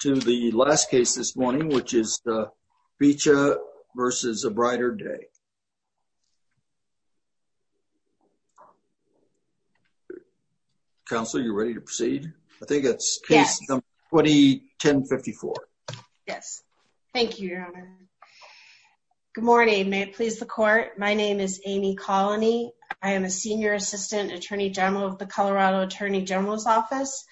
to the last case this morning, which is Bicha v. A Brighter Day. Counsel, are you ready to proceed? I think it's case number 20-1054. Yes. Thank you, Your Honor. Good morning. May it please the court? My name is Amy Colony. I am a Senior Assistant Attorney General of the Colorado Attorney General's Office.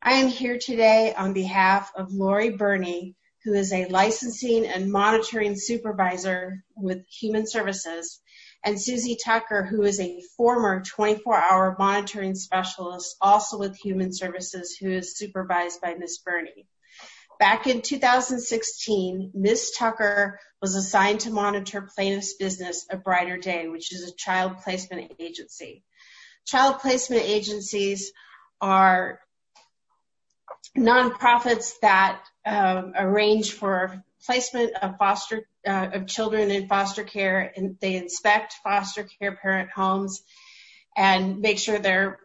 I am here today on behalf of Lori Birney, who is a Licensing and Monitoring Supervisor with Human Services, and Susie Tucker, who is a former 24-hour Monitoring Specialist, also with Human Services, who is supervised by Ms. Birney. Back in 2016, Ms. Tucker was assigned to monitor plaintiff's business, A Brighter Day, which is a child placement agency. Child placement agencies are non-profits that arrange for placement of children in foster care. They inspect foster care parent homes and make sure they're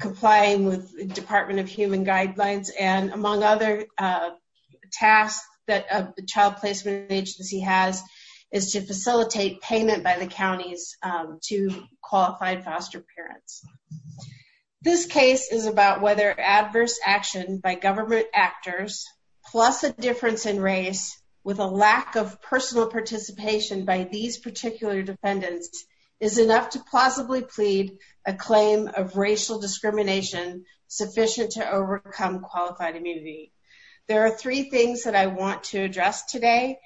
complying with Department of Human Guidelines. Among other tasks that a child placement agency has is to facilitate payment by the counties to qualified foster parents. This case is about whether adverse action by government actors, plus a difference in race with a lack of personal participation by these particular defendants, is enough to plausibly plead a claim of racial discrimination sufficient to overcome qualified immunity. There are three things that I want to address today.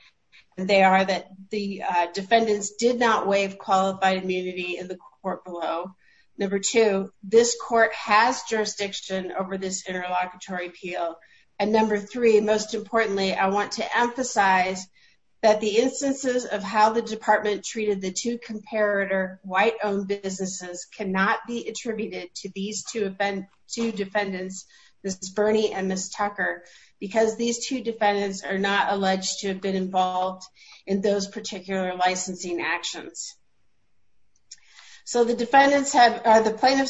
They are that the defendants did not waive qualified immunity in the court below. Number two, this court has jurisdiction over this interlocutory appeal. And number three, most importantly, I want to emphasize that the instances of how the department treated the two comparator white-owned businesses cannot be attributed to these two defendants, Ms. Birney and Ms. Tucker, because these two defendants are not alleged to have been involved in those particular licensing actions. So the plaintiffs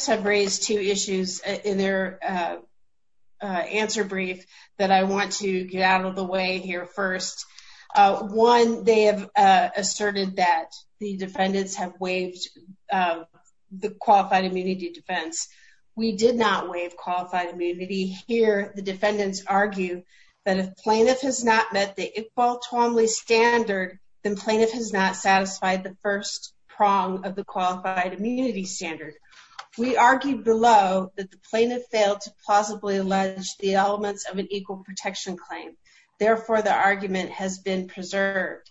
have raised two issues in their answer brief that I want to get out of the way here first. One, they have asserted that the defendants have waived of the qualified immunity defense. We did not waive qualified immunity here. The defendants argue that if plaintiff has not met the Iqbal-Tuamli standard, then plaintiff has not satisfied the first prong of the qualified immunity standard. We argued below that the plaintiff failed to plausibly allege the elements of an equal protection claim. Therefore, the argument has been preserved.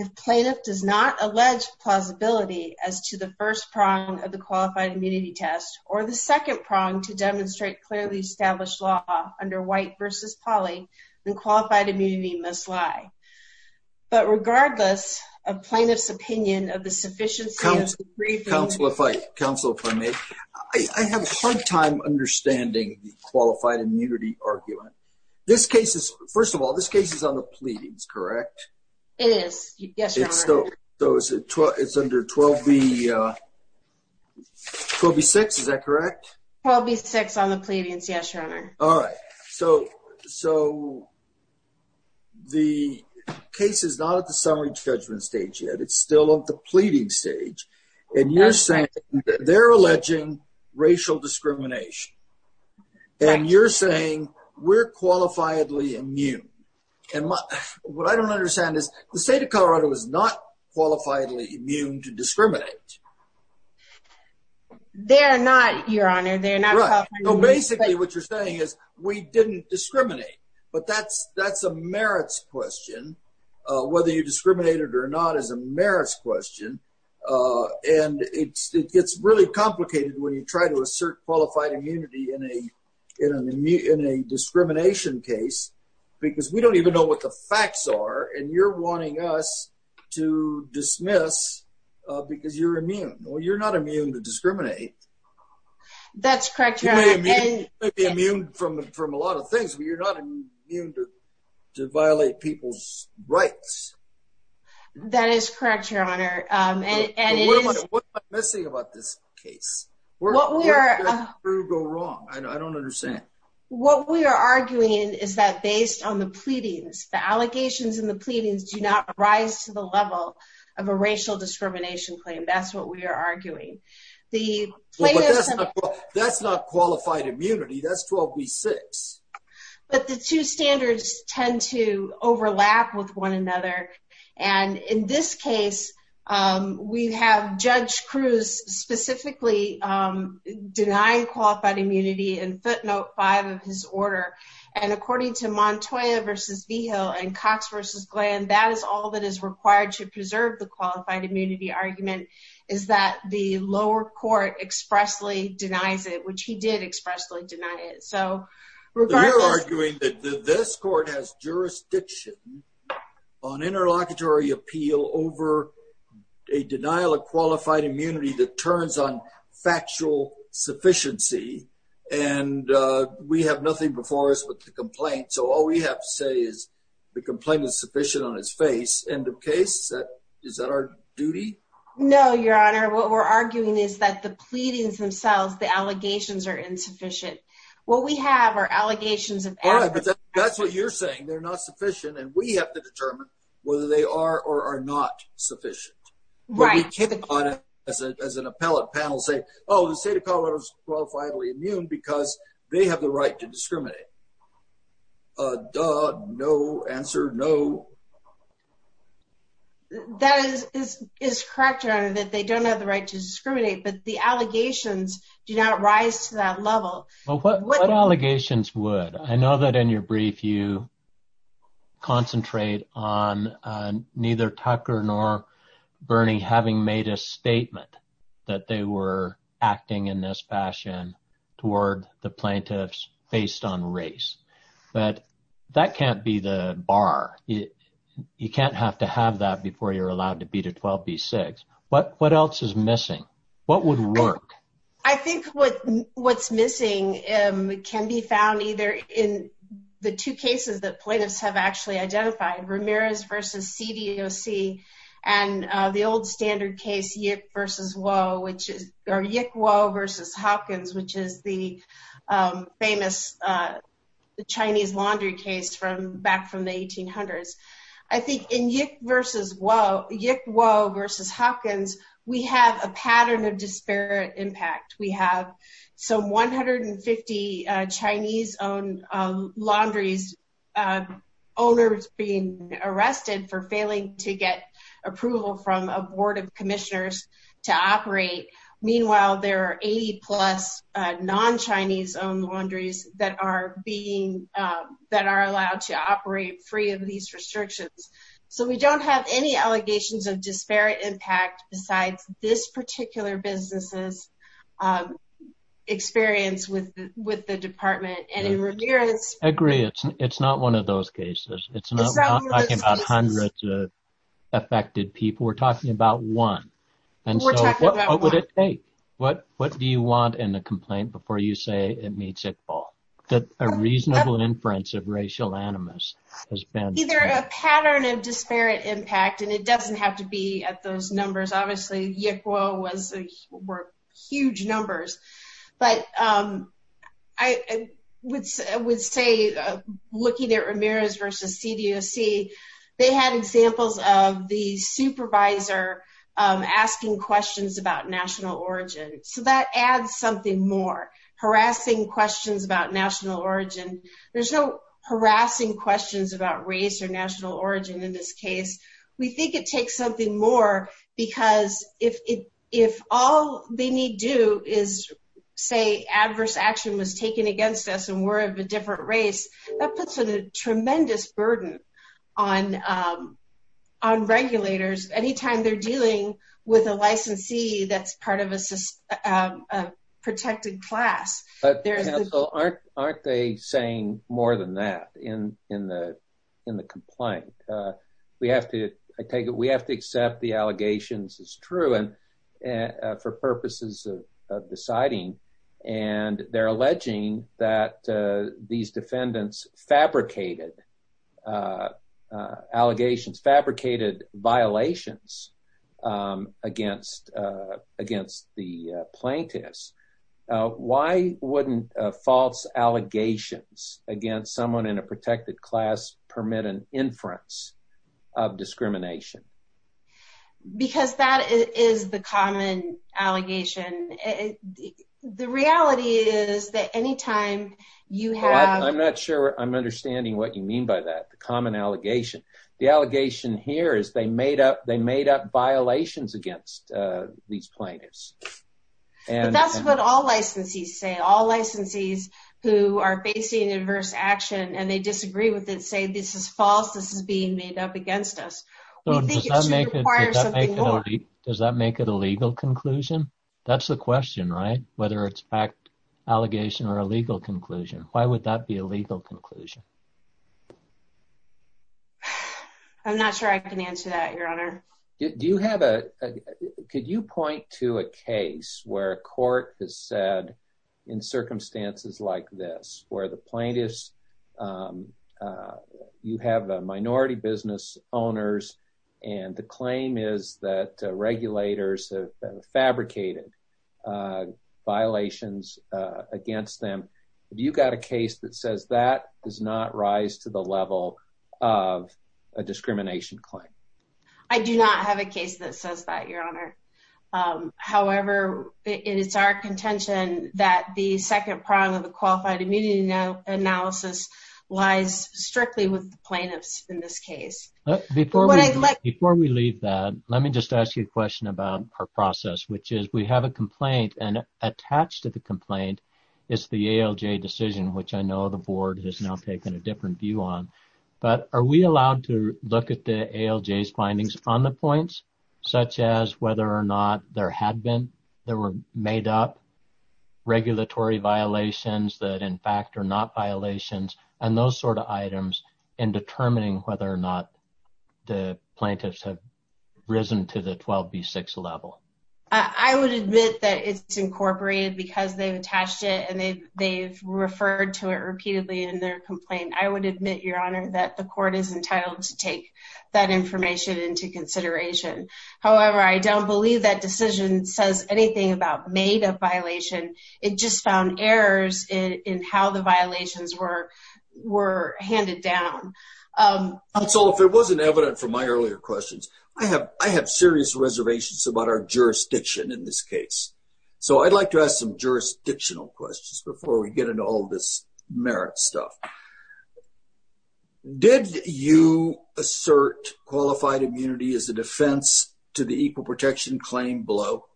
If plaintiff does not allege plausibility as to the first prong of the qualified immunity test, or the second prong to demonstrate clearly established law under white versus poly, then qualified immunity must lie. But regardless of plaintiff's opinion of the sufficiency of the brief- Counselor, if I may, I have a hard time understanding the qualified immunity argument. This case is, first of all, this case is on the pleadings, correct? It is, yes, your honor. It's still, so it's under 12B6, is that correct? 12B6 on the pleadings, yes, your honor. All right. So the case is not at the summary judgment stage yet. It's still at the pleading stage, and you're saying they're alleging racial discrimination, and you're saying we're qualifiably immune. And what I don't understand is the state of Colorado is not qualifiably immune to discriminate. They're not, your honor, they're not- Right, so basically what you're saying is we didn't discriminate, but that's a merits question. Whether you discriminate it or not is a merits question. And it gets really complicated when you try to assert qualified immunity in a discrimination case, because we don't even know what the facts are, and you're wanting us to dismiss because you're immune. Well, you're not immune to discriminate. That's correct, your honor. You may be immune from a lot of things, but you're not immune to violate people's rights. That is correct, your honor. And it is- What am I missing about this case? What we are- Where did that true go wrong? I don't understand. What we are arguing is that based on the pleadings, the allegations in the pleadings do not rise to the level of a racial discrimination claim. That's what we are arguing. The- Well, but that's not qualified immunity. That's 12B6. But the two standards tend to overlap with one another. And in this case, we have Judge Cruz specifically denying qualified immunity in footnote five of his order. And according to Montoya v. Vigil and Cox v. Glenn, that is all that is required to preserve the qualified immunity argument, is that the lower court expressly denies it, which he did expressly deny it. So regardless- But you're arguing that this court has jurisdiction on interlocutory appeal over a denial of qualified immunity that turns on factual sufficiency. And we have nothing before us with the complaint. So all we have to say is the complaint is sufficient on its face. End of case? Is that our duty? No, your honor. What we're arguing is that the pleadings themselves, the allegations are insufficient. What we have are allegations of- All right, but that's what you're saying. They're not sufficient. And we have to determine whether they are or are not sufficient. Right. But we can't as an appellate panel say, oh, the state of Colorado is qualifiedly immune because they have the right to discriminate. Duh, no, answer no. That is correct, your honor, that they don't have the right to discriminate. But the Well, what allegations would? I know that in your brief you concentrate on neither Tucker nor Bernie having made a statement that they were acting in this fashion toward the plaintiffs based on race. But that can't be the bar. You can't have to have that before you're allowed to be to 12b-6. What else is missing? What would work? I think what's missing can be found either in the two cases that plaintiffs have actually identified, Ramirez versus CDOC and the old standard case, Yick versus Woe, or Yick-Woe versus Hopkins, which is the famous Chinese laundry case from back from the 1800s. I think in Yick versus Woe, Yick-Woe versus Hopkins, we have a pattern of disparate impact. We have some 150 Chinese owned laundries owners being arrested for failing to get approval from a board of commissioners to operate. Meanwhile, there are 80 plus non-Chinese owned laundries that are allowed to operate free of these restrictions. So we don't have any allegations of disparate impact besides this particular business's experience with the department. I agree. It's not one of those cases. It's not talking about hundreds of affected people. We're talking about one. What would it take? What do you want in a complaint before you say it meets that a reasonable inference of racial animus has been? Either a pattern of disparate impact, and it doesn't have to be at those numbers. Obviously, Yick-Woe were huge numbers. But I would say looking at Ramirez versus CDOC, they had examples of the supervisor asking questions about national origin. So that adds something more, harassing questions about national origin. There's no harassing questions about race or national origin in this case. We think it takes something more because if all they need do is say adverse action was taken against us and we're of a different race, that puts a tremendous burden on regulators. Anytime they're dealing with a licensee that's a protected class. But counsel, aren't they saying more than that in the complaint? We have to accept the allegations as true for purposes of deciding. And they're alleging that these defendants fabricated allegations, fabricated violations against the plaintiffs. Why wouldn't false allegations against someone in a protected class permit an inference of discrimination? Because that is the common allegation. The reality is that anytime you have... I'm not sure I'm understanding what you mean by that, the common allegation. The allegation here is they made up violations against these plaintiffs. And that's what all licensees say. All licensees who are facing adverse action and they disagree with it say, this is false. This is being made up against us. We think it should require something more. Does that make it a legal conclusion? That's the question, right? Whether it's fact allegation or a legal conclusion. Why would that be a legal conclusion? I'm not sure I can answer that, your honor. Could you point to a case where a court has said in circumstances like this, where the plaintiffs, you have a minority business owners and the claim is that regulators have fabricated violations against them. Have you got a case that says that does not rise to the level of a discrimination claim? I do not have a case that says that, your honor. However, it is our contention that the second prong of the qualified immunity analysis lies strictly with the plaintiffs in this case. Before we leave that, let me just ask you a question about our process, which is we have a complaint and attached to the complaint is the ALJ decision, which I know the board has now taken a different view on, but are we allowed to look at the ALJ's findings on the points, such as whether or not there had been, there were made up regulatory violations that in fact are not violations and those sorts of items in determining whether or not the plaintiffs have risen to the 12B6 level? I would admit that it's incorporated because they've attached it and they've referred to it repeatedly in their complaint. I would admit, your honor, that the court is entitled to take that information into consideration. However, I don't believe that decision says anything about made up violation. It just found errors in how the violations were handed down. If it wasn't evident from my earlier questions, I have serious reservations about our jurisdiction in this case. I'd like to ask some jurisdictional questions before we get into all this merit stuff. Did you assert qualified immunity as a defense to the equal protection claim below?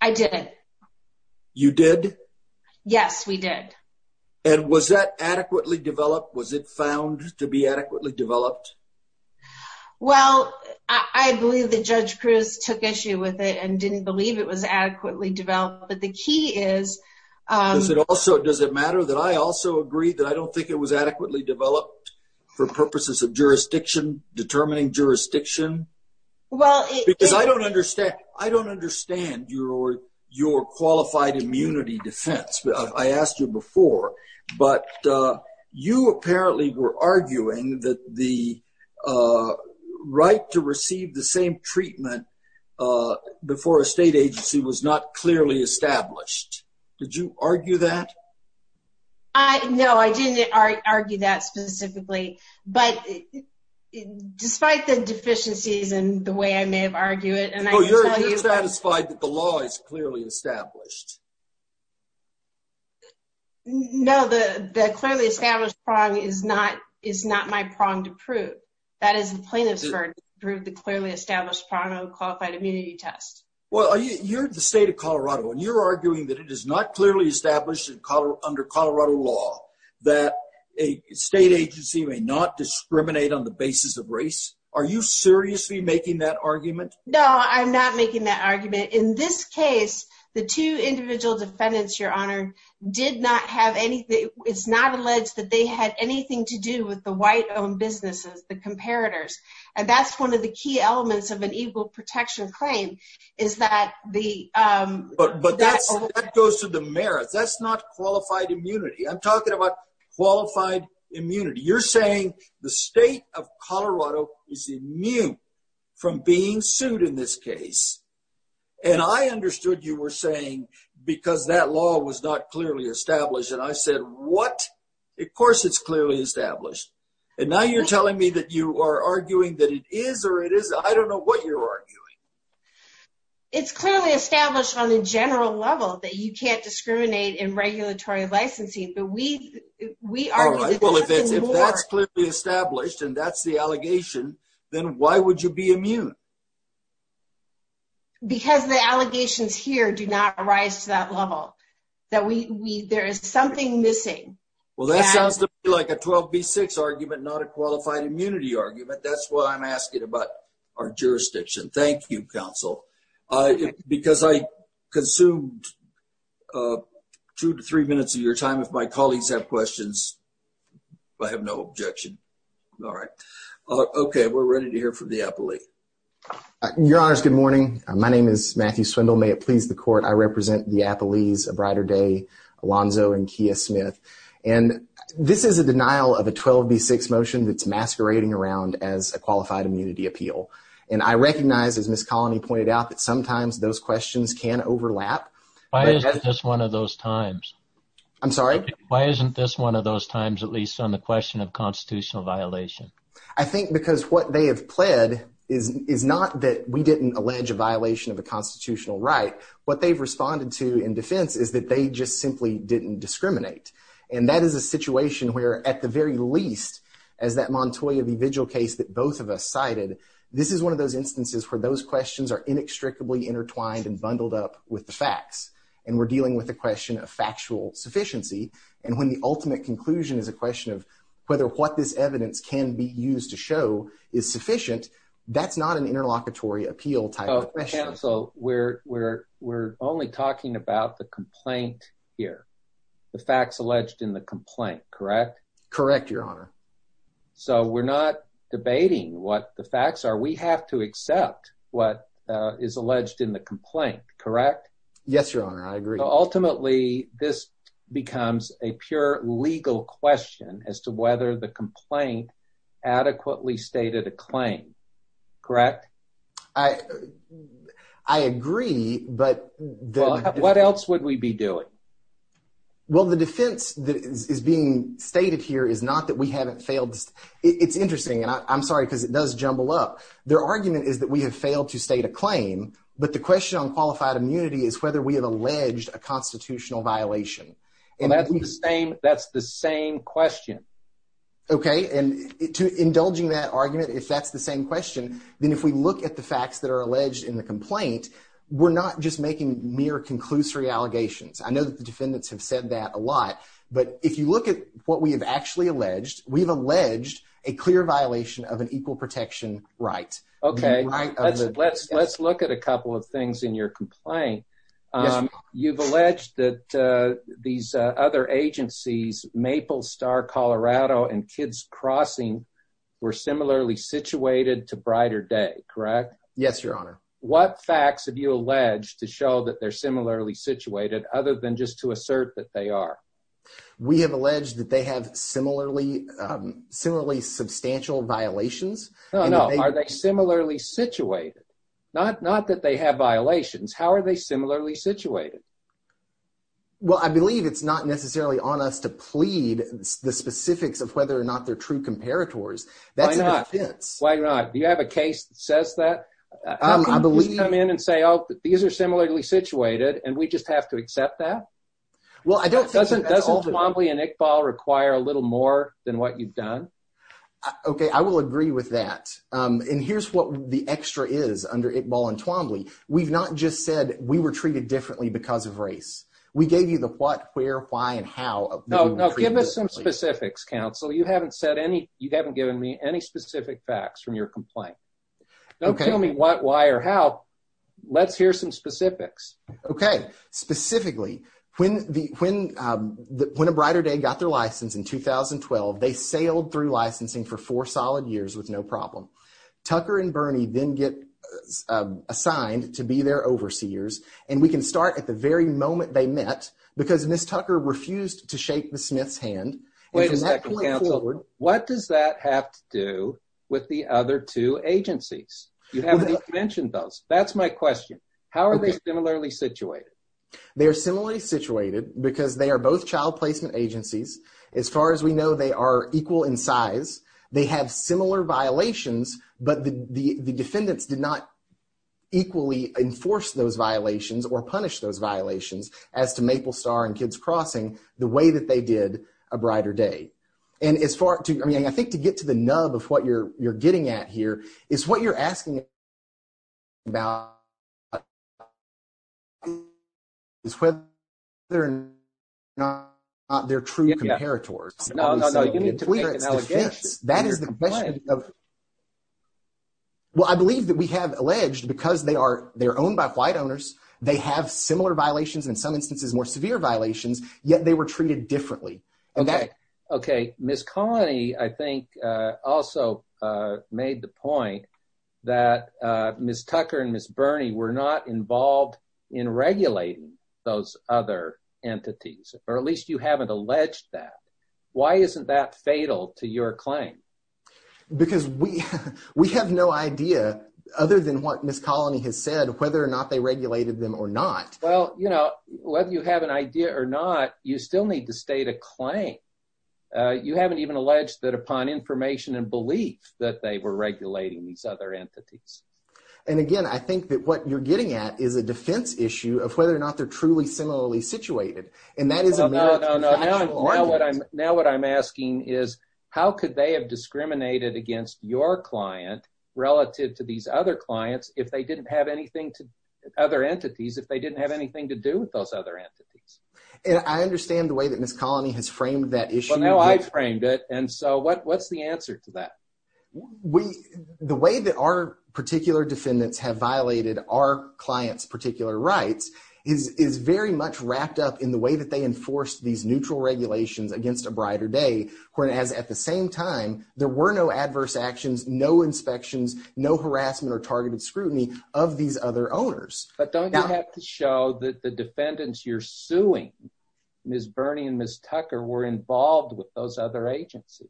I did. You did? Yes, we did. Was that adequately developed? Was it found to be adequately developed? Well, I believe that Judge Cruz took issue with it and didn't believe it was adequately developed, but the key is... Does it matter that I also agree that I don't think it was adequately developed for purposes of jurisdiction, determining jurisdiction? Because I don't understand your qualified immunity defense. I asked you before, but you apparently were arguing that the right to receive the same treatment before a state agency was not clearly established. Did you argue that? No, I didn't argue that specifically, but despite the deficiencies and the way I may have argued it... Oh, you're satisfied that the law is clearly established? No, the clearly established prong is not my prong to prove. That is the plaintiff's prong to prove the clearly established prong of a qualified immunity test. Well, you're the state of Colorado, and you're arguing that it is not clearly established under Colorado law that a state agency may not discriminate on the basis of race. Are you seriously making that argument? No, I'm not making that argument. In this case, the two individual defendants, your honor, did not have any... It's not alleged that they had anything to do with the white-owned businesses, the comparators. And that's one of the key elements of an equal protection claim, is that the... But that goes to the merits. That's not qualified immunity. I'm talking about qualified immunity. You're saying the state of Colorado is immune from being sued in this case. And I understood you were saying because that law was not clearly established. And I said, what? Of course, it's clearly established. And now you're telling me that you are arguing that it is or it isn't. I don't know what you're arguing. It's clearly established on a general level that you can't discriminate in regulatory licensing. But we are... All right. Well, if that's clearly established, and that's the allegation, then why would you be immune? Because the allegations here do not rise to that level. There is something missing. Well, that sounds to me like a 12B6 argument, not a qualified immunity argument. That's why I'm asking about our jurisdiction. Thank you, counsel. Because I consumed two to three minutes of your time. If my colleagues have questions, I have no objection. All right. Okay. We're ready to hear from the appellee. Your honors, good morning. My name is Matthew Swindle. May it please the court, I represent the appellees of Brighter Day, Alonzo, and Kia Smith. And this is a denial of a 12B6 motion that's masquerading around as a qualified immunity appeal. And I recognize, as Ms. Colony pointed out, that sometimes those questions can overlap. Why isn't this one of those times? I'm sorry? Why isn't this one of those times, at least on the question of constitutional violation? I think because what they have pled is not that we didn't allege a violation of a constitutional right. What they've responded to in defense is that they just simply didn't discriminate. And that is a situation where, at the very least, as that Montoya v. Vigil case that both of us questions are inextricably intertwined and bundled up with the facts. And we're dealing with the question of factual sufficiency. And when the ultimate conclusion is a question of whether what this evidence can be used to show is sufficient, that's not an interlocutory appeal type of question. Counsel, we're only talking about the complaint here. The facts alleged in the complaint, correct? Correct, your honor. So we're not debating what the facts are. We have to accept what is alleged in the complaint, correct? Yes, your honor. I agree. Ultimately, this becomes a pure legal question as to whether the complaint adequately stated a claim, correct? I agree. But what else would we be doing? Well, the defense that is being stated here is not that we haven't failed. It's interesting. And I'm sorry, because it does jumble up. Their argument is that we have failed to state a claim. But the question on qualified immunity is whether we have alleged a constitutional violation. And that's the same question. Okay. And indulging that argument, if that's the same question, then if we look at the facts that are alleged in the complaint, we're not just making mere conclusory allegations. I know that defendants have said that a lot. But if you look at what we have actually alleged, we've alleged a clear violation of an equal protection right. Okay. Let's look at a couple of things in your complaint. You've alleged that these other agencies, Maple Star Colorado and Kids Crossing, were similarly situated to Brighter Day, correct? Yes, your honor. What facts have you alleged to show that they're similarly situated other than just to assert that they are? We have alleged that they have similarly substantial violations. No, no. Are they similarly situated? Not that they have violations. How are they similarly situated? Well, I believe it's not necessarily on us to plead the specifics of whether or not they're true comparators. That's a defense. Why not? Do you have a case that says that? I believe you come in and say, oh, these are similarly situated and we just have to accept that. Well, I don't think that's all. Doesn't Twombly and Iqbal require a little more than what you've done? Okay. I will agree with that. And here's what the extra is under Iqbal and Twombly. We've not just said we were treated differently because of race. We gave you the what, where, why, and how. No, no. Give us some specifics, counsel. You haven't said any, you haven't given me any specific facts from your complaint. Don't tell me what, why, or how. Let's hear some specifics. Okay. Specifically, when the, when the, when a brighter day got their license in 2012, they sailed through licensing for four solid years with no problem. Tucker and Bernie then get assigned to be their overseers. And we can start at the very moment they met because Ms. Tucker refused to shake the Smith's hand. Wait a second, counsel. What does that have to do with the other two agencies? You haven't even mentioned those. That's my question. How are they similarly situated? They are similarly situated because they are both child placement agencies. As far as we know, they are equal in size. They have similar violations, but the defendants did not equally enforce those violations or punish those violations as to Maple Star and Kids Crossing, the way that they did a brighter day. And as far to, I mean, I think to get to the nub of what you're, you're getting at here is what you're asking about is whether or not they're true comparators. Well, I believe that we have alleged because they are, they're owned by white owners. They have similar violations in some instances, more severe violations, yet they were treated differently. Okay. Okay. Ms. Connie, I think also made the point that Ms. Tucker and Ms. Bernie were not involved in regulating those other entities, or at least you haven't alleged that. Why isn't that fatal to your claim? Because we, we have no idea other than what Ms. Connie has said, whether or not they regulated them or not. Well, you know, whether you have an idea or not, you still need to state a claim. You haven't even alleged that upon information and belief that they were regulating these other entities. And again, I think that what you're getting at is a defense issue of whether or not they're truly similarly situated. And that is a miracle factual argument. Now, what I'm asking is how could they have discriminated against your client relative to these other clients if they didn't have anything to, other entities, if they didn't have anything to do with those other entities? And I understand the way that Ms. Connie has framed that issue. Well, now I framed it. And so what, what's the answer to that? We, the way that our particular defendants have violated our client's particular rights is, is very much wrapped up in the way that they enforced these neutral regulations against A Brighter Day, where it has at the same time, there were no adverse actions, no inspections, no harassment or targeted scrutiny of these other owners. But don't you have to show that the defendants you're suing, Ms. Bernie and Ms. Tucker were involved with those other agencies?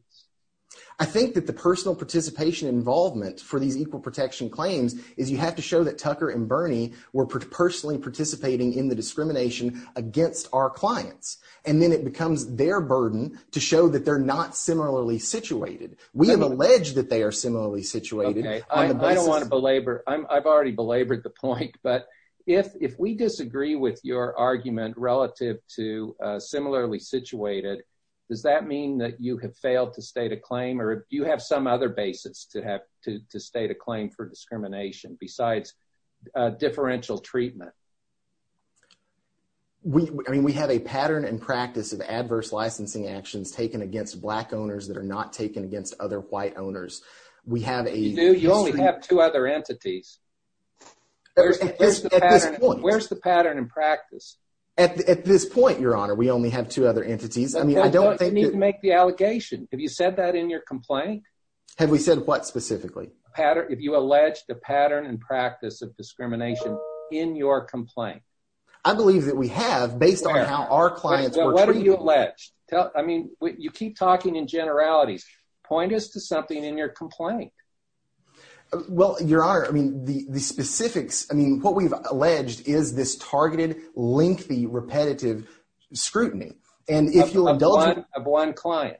I think that the personal participation involvement for these equal protection claims is you have to show that Tucker and Bernie were personally participating in the discrimination against our clients. And then it becomes their burden to show that they're not similarly situated. We have alleged that they are similarly situated. I don't want to belabor. I've already belabored the point, but if, if we disagree with your argument relative to a similarly situated, does that mean that you have failed to state a claim or do you have some other basis to have to, to state a claim for discrimination besides a differential treatment? We, I mean, we have a pattern and practice of adverse licensing actions taken against black owners that are not taken against other white owners. We have a... You do? You only have two other entities. Where's the pattern and practice? At this point, Your Honor, we only have two other entities. I mean, I don't think... You don't need to make the allegation. Have you said that in your complaint? Have we said what specifically? Pattern, if you allege the pattern and practice of discrimination in your complaint. I believe that we have based on how our clients were treated. What are you alleged? I mean, you keep talking in generalities. Point us to something in your complaint. Well, Your Honor, I mean, the, the specifics, I mean, what we've alleged is this targeted, lengthy, repetitive scrutiny. And if you'll indulge me... Of one client.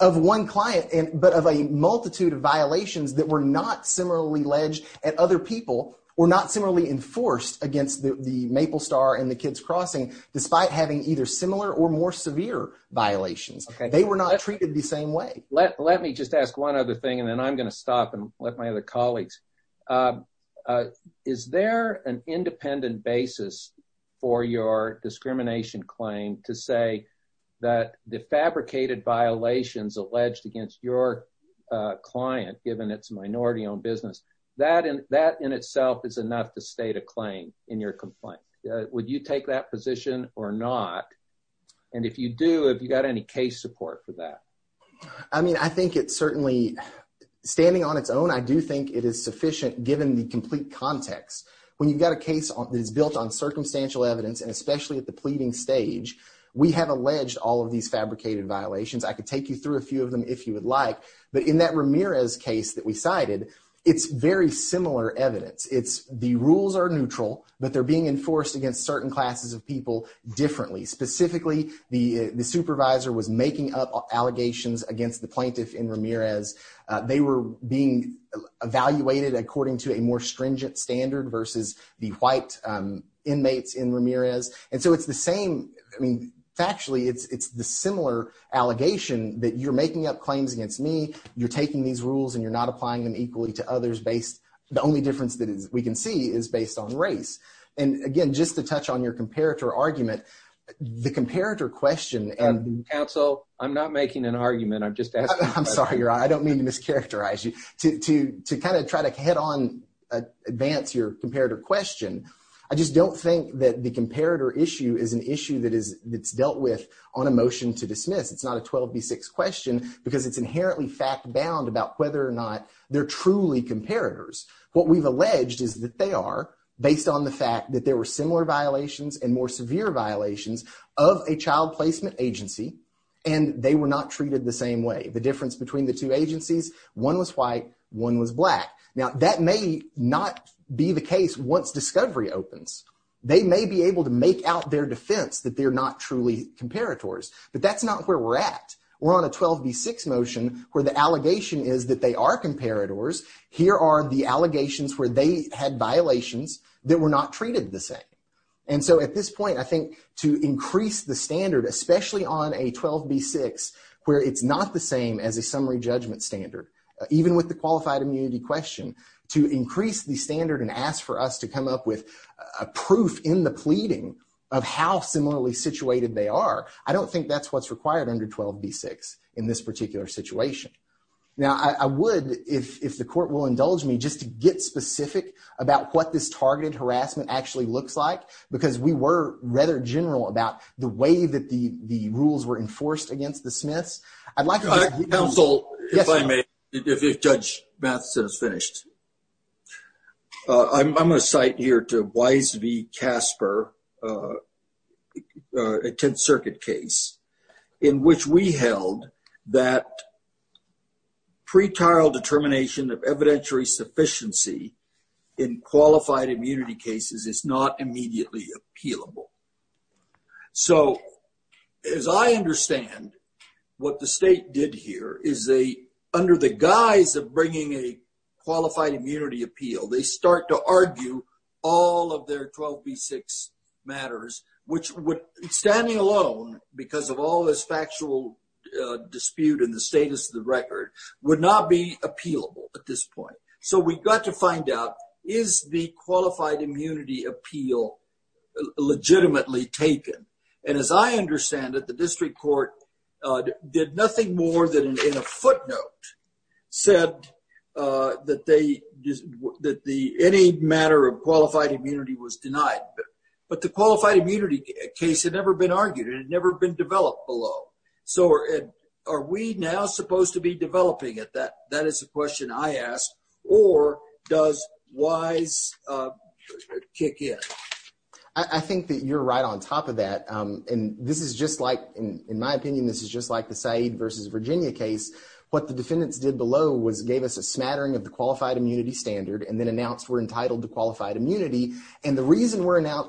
Of one client, but of a multitude of violations that were not similarly alleged at other people or not similarly enforced against the Maple Star and the Kids Crossing, despite having either similar or more severe violations. They were not treated the same way. Let me just ask one other thing, and then I'm going to stop and let my other colleagues. Is there an independent basis for your discrimination claim to say that the fabricated violations alleged against your client, given its minority-owned business, that in itself is enough to state a claim in your complaint? Would you take that position or not? And if you do, have you got any case support for that? I mean, I think it's certainly standing on its own. I do think it is sufficient, given the complete context. When you've got a case that is built on circumstantial evidence, and especially at the pleading stage, we have alleged all of these fabricated violations. I could take you through a few of them if you would like, but in that Ramirez case that we have, it's very similar evidence. The rules are neutral, but they're being enforced against certain classes of people differently. Specifically, the supervisor was making up allegations against the plaintiff in Ramirez. They were being evaluated according to a more stringent standard versus the white inmates in Ramirez. And so it's the same. I mean, factually, it's the similar allegation that you're making up claims against me, you're taking these rules, and you're not applying them equally to others based... The only difference that we can see is based on race. And again, just to touch on your comparator argument, the comparator question... Counsel, I'm not making an argument. I'm just asking a question. I'm sorry. I don't mean to mischaracterize you. To kind of try to head on, advance your comparator question, I just don't think that the comparator issue is an issue that is dealt with on a motion to dismiss. It's not a fact bound about whether or not they're truly comparators. What we've alleged is that they are based on the fact that there were similar violations and more severe violations of a child placement agency, and they were not treated the same way. The difference between the two agencies, one was white, one was black. Now, that may not be the case once discovery opens. They may be able to make out their defense that they're not truly comparators, but that's not where we're at. We're on a 12B6 motion where the allegation is that they are comparators. Here are the allegations where they had violations that were not treated the same. And so at this point, I think to increase the standard, especially on a 12B6, where it's not the same as a summary judgment standard, even with the qualified immunity question, to increase the standard and ask for us to come up with proof in the pleading of how situated they are, I don't think that's what's required under 12B6 in this particular situation. Now, I would, if the court will indulge me, just to get specific about what this targeted harassment actually looks like, because we were rather general about the way that the rules were enforced against the Smiths. I'd like- Counsel, if I may, if Judge Matheson is finished. I'm going to cite here to Wise v. Casper, a 10th Circuit case, in which we held that pretrial determination of evidentiary sufficiency in qualified immunity cases is not immediately appealable. So as I understand, what the state did here is they, under the guise of bringing a qualified immunity appeal, they start to argue all of their 12B6 matters, which would, standing alone, because of all this factual dispute and the status of the record, would not be appealable at this point. So we got to find out, is the qualified immunity appeal legitimately taken? And as I understand it, the district court did nothing more than in a footnote, said that any matter of qualified immunity was denied. But the qualified immunity case had never been argued. It had never been developed below. So are we now supposed to be developing it? That is the question I ask. Or does Wise kick in? I think that you're right on top of that. And this is just like, in my opinion, this is just like the Said v. Virginia case. What the defendants did below was gave us a smattering of the qualified immunity standard and then announced we're entitled to qualified immunity. And the reason we're entitled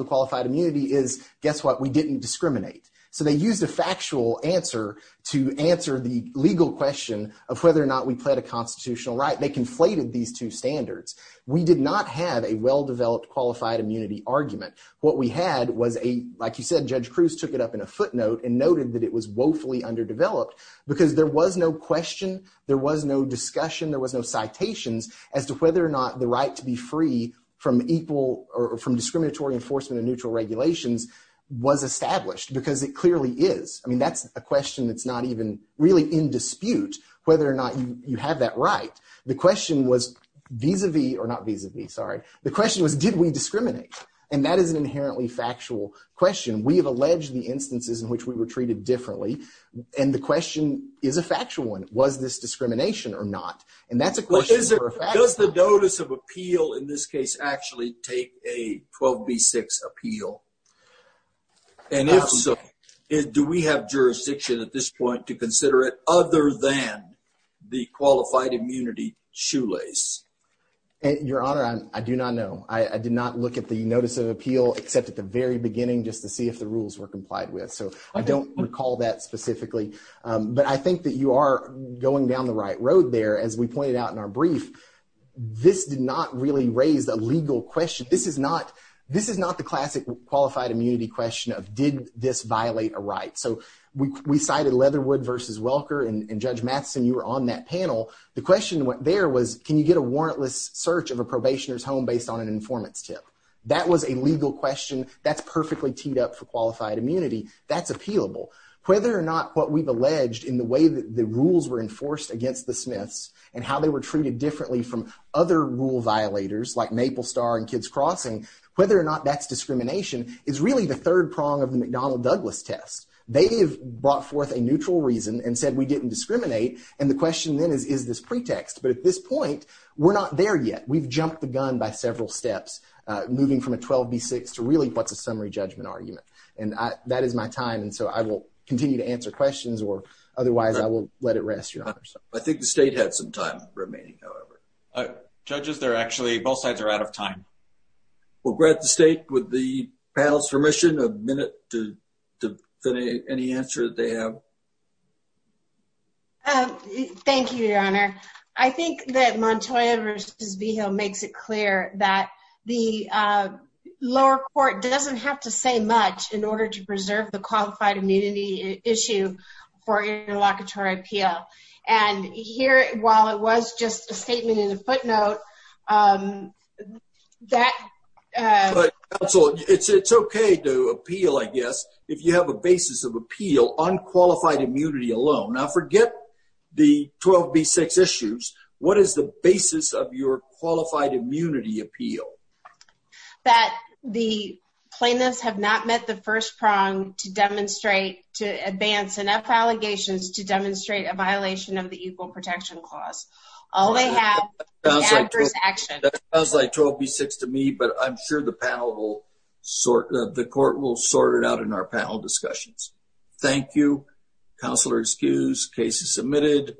to qualified immunity is, guess what, we didn't discriminate. So they used a factual answer to answer the legal question of whether or not we pled a constitutional right. They conflated these two standards. We did not have a well-developed qualified immunity argument. What we had was a, like you said, Judge Cruz took it up in a footnote and noted that it was woefully underdeveloped because there was no question, there was no discussion, there was no citations as to whether or not the right to be free from equal or from discriminatory enforcement and neutral regulations was established because it clearly is. I mean, that's a question that's not even really in dispute, whether or not you have that right. The question was vis-a-vis or not vis-a-vis, sorry. The question was, did we discriminate? And that is an inherently factual question. We have alleged the instances in which we were treated differently. And the question is a factual one. Was this discrimination or not? And that's a question for a fact. Does the notice of appeal in this case actually take a 12B6 appeal? And if so, do we have jurisdiction at this point to consider it other than the qualified immunity shoelace? Your Honor, I do not know. I did not look at the notice of appeal except at the very beginning just to see if the rules were complied with. So I don't recall that specifically. But I think that you are going down the right road there. As we pointed out in our brief, this did not really raise a legal question. This is not the classic qualified immunity question of, did this violate a right? So we cited Leatherwood v. Welker. And Judge Matheson, you were on that panel. The question there was, can you get a warrantless search of a probationer's home based on an informant's tip? That was a legal question. That's perfectly teed up for qualified immunity. That's appealable. Whether or not what we've alleged in the way that the rules were enforced against the Smiths and how they were treated differently from other rule violators like Maple Star and Kids Crossing, whether or not that's discrimination is really the third prong of the McDonnell-Douglas test. They have brought forth a neutral reason and said we didn't discriminate. And the question then is, is this pretext? But at this point, we're not there yet. We've jumped the gun by several steps, moving from a 12B6 to really what's a summary judgment argument. And that is my time. And so I will continue to answer questions or otherwise I will let it rest, Your Honor. I think the state had some time remaining, however. Judges, they're actually, both sides are out of time. We'll grant the state with the panel's permission a minute to define any answer that they have. Thank you, Your Honor. I think that Montoya v. Vigil makes it clear that the lower court doesn't have to say much in order to preserve the qualified immunity issue for interlocutory appeal. And here, while it was just a statement in a footnote, that... But counsel, it's okay to appeal, I guess, if you have a basis of appeal on qualified immunity alone. Now forget the 12B6 issues. What is the basis of your qualified immunity appeal? That the plaintiffs have not met the first prong to demonstrate, to advance enough allegations to demonstrate a violation of the Equal Protection Clause. All they have is adverse action. That sounds like 12B6 to me, but I'm sure the court will sort it out in our panel discussions. Thank you. Counselor excused. Case is submitted.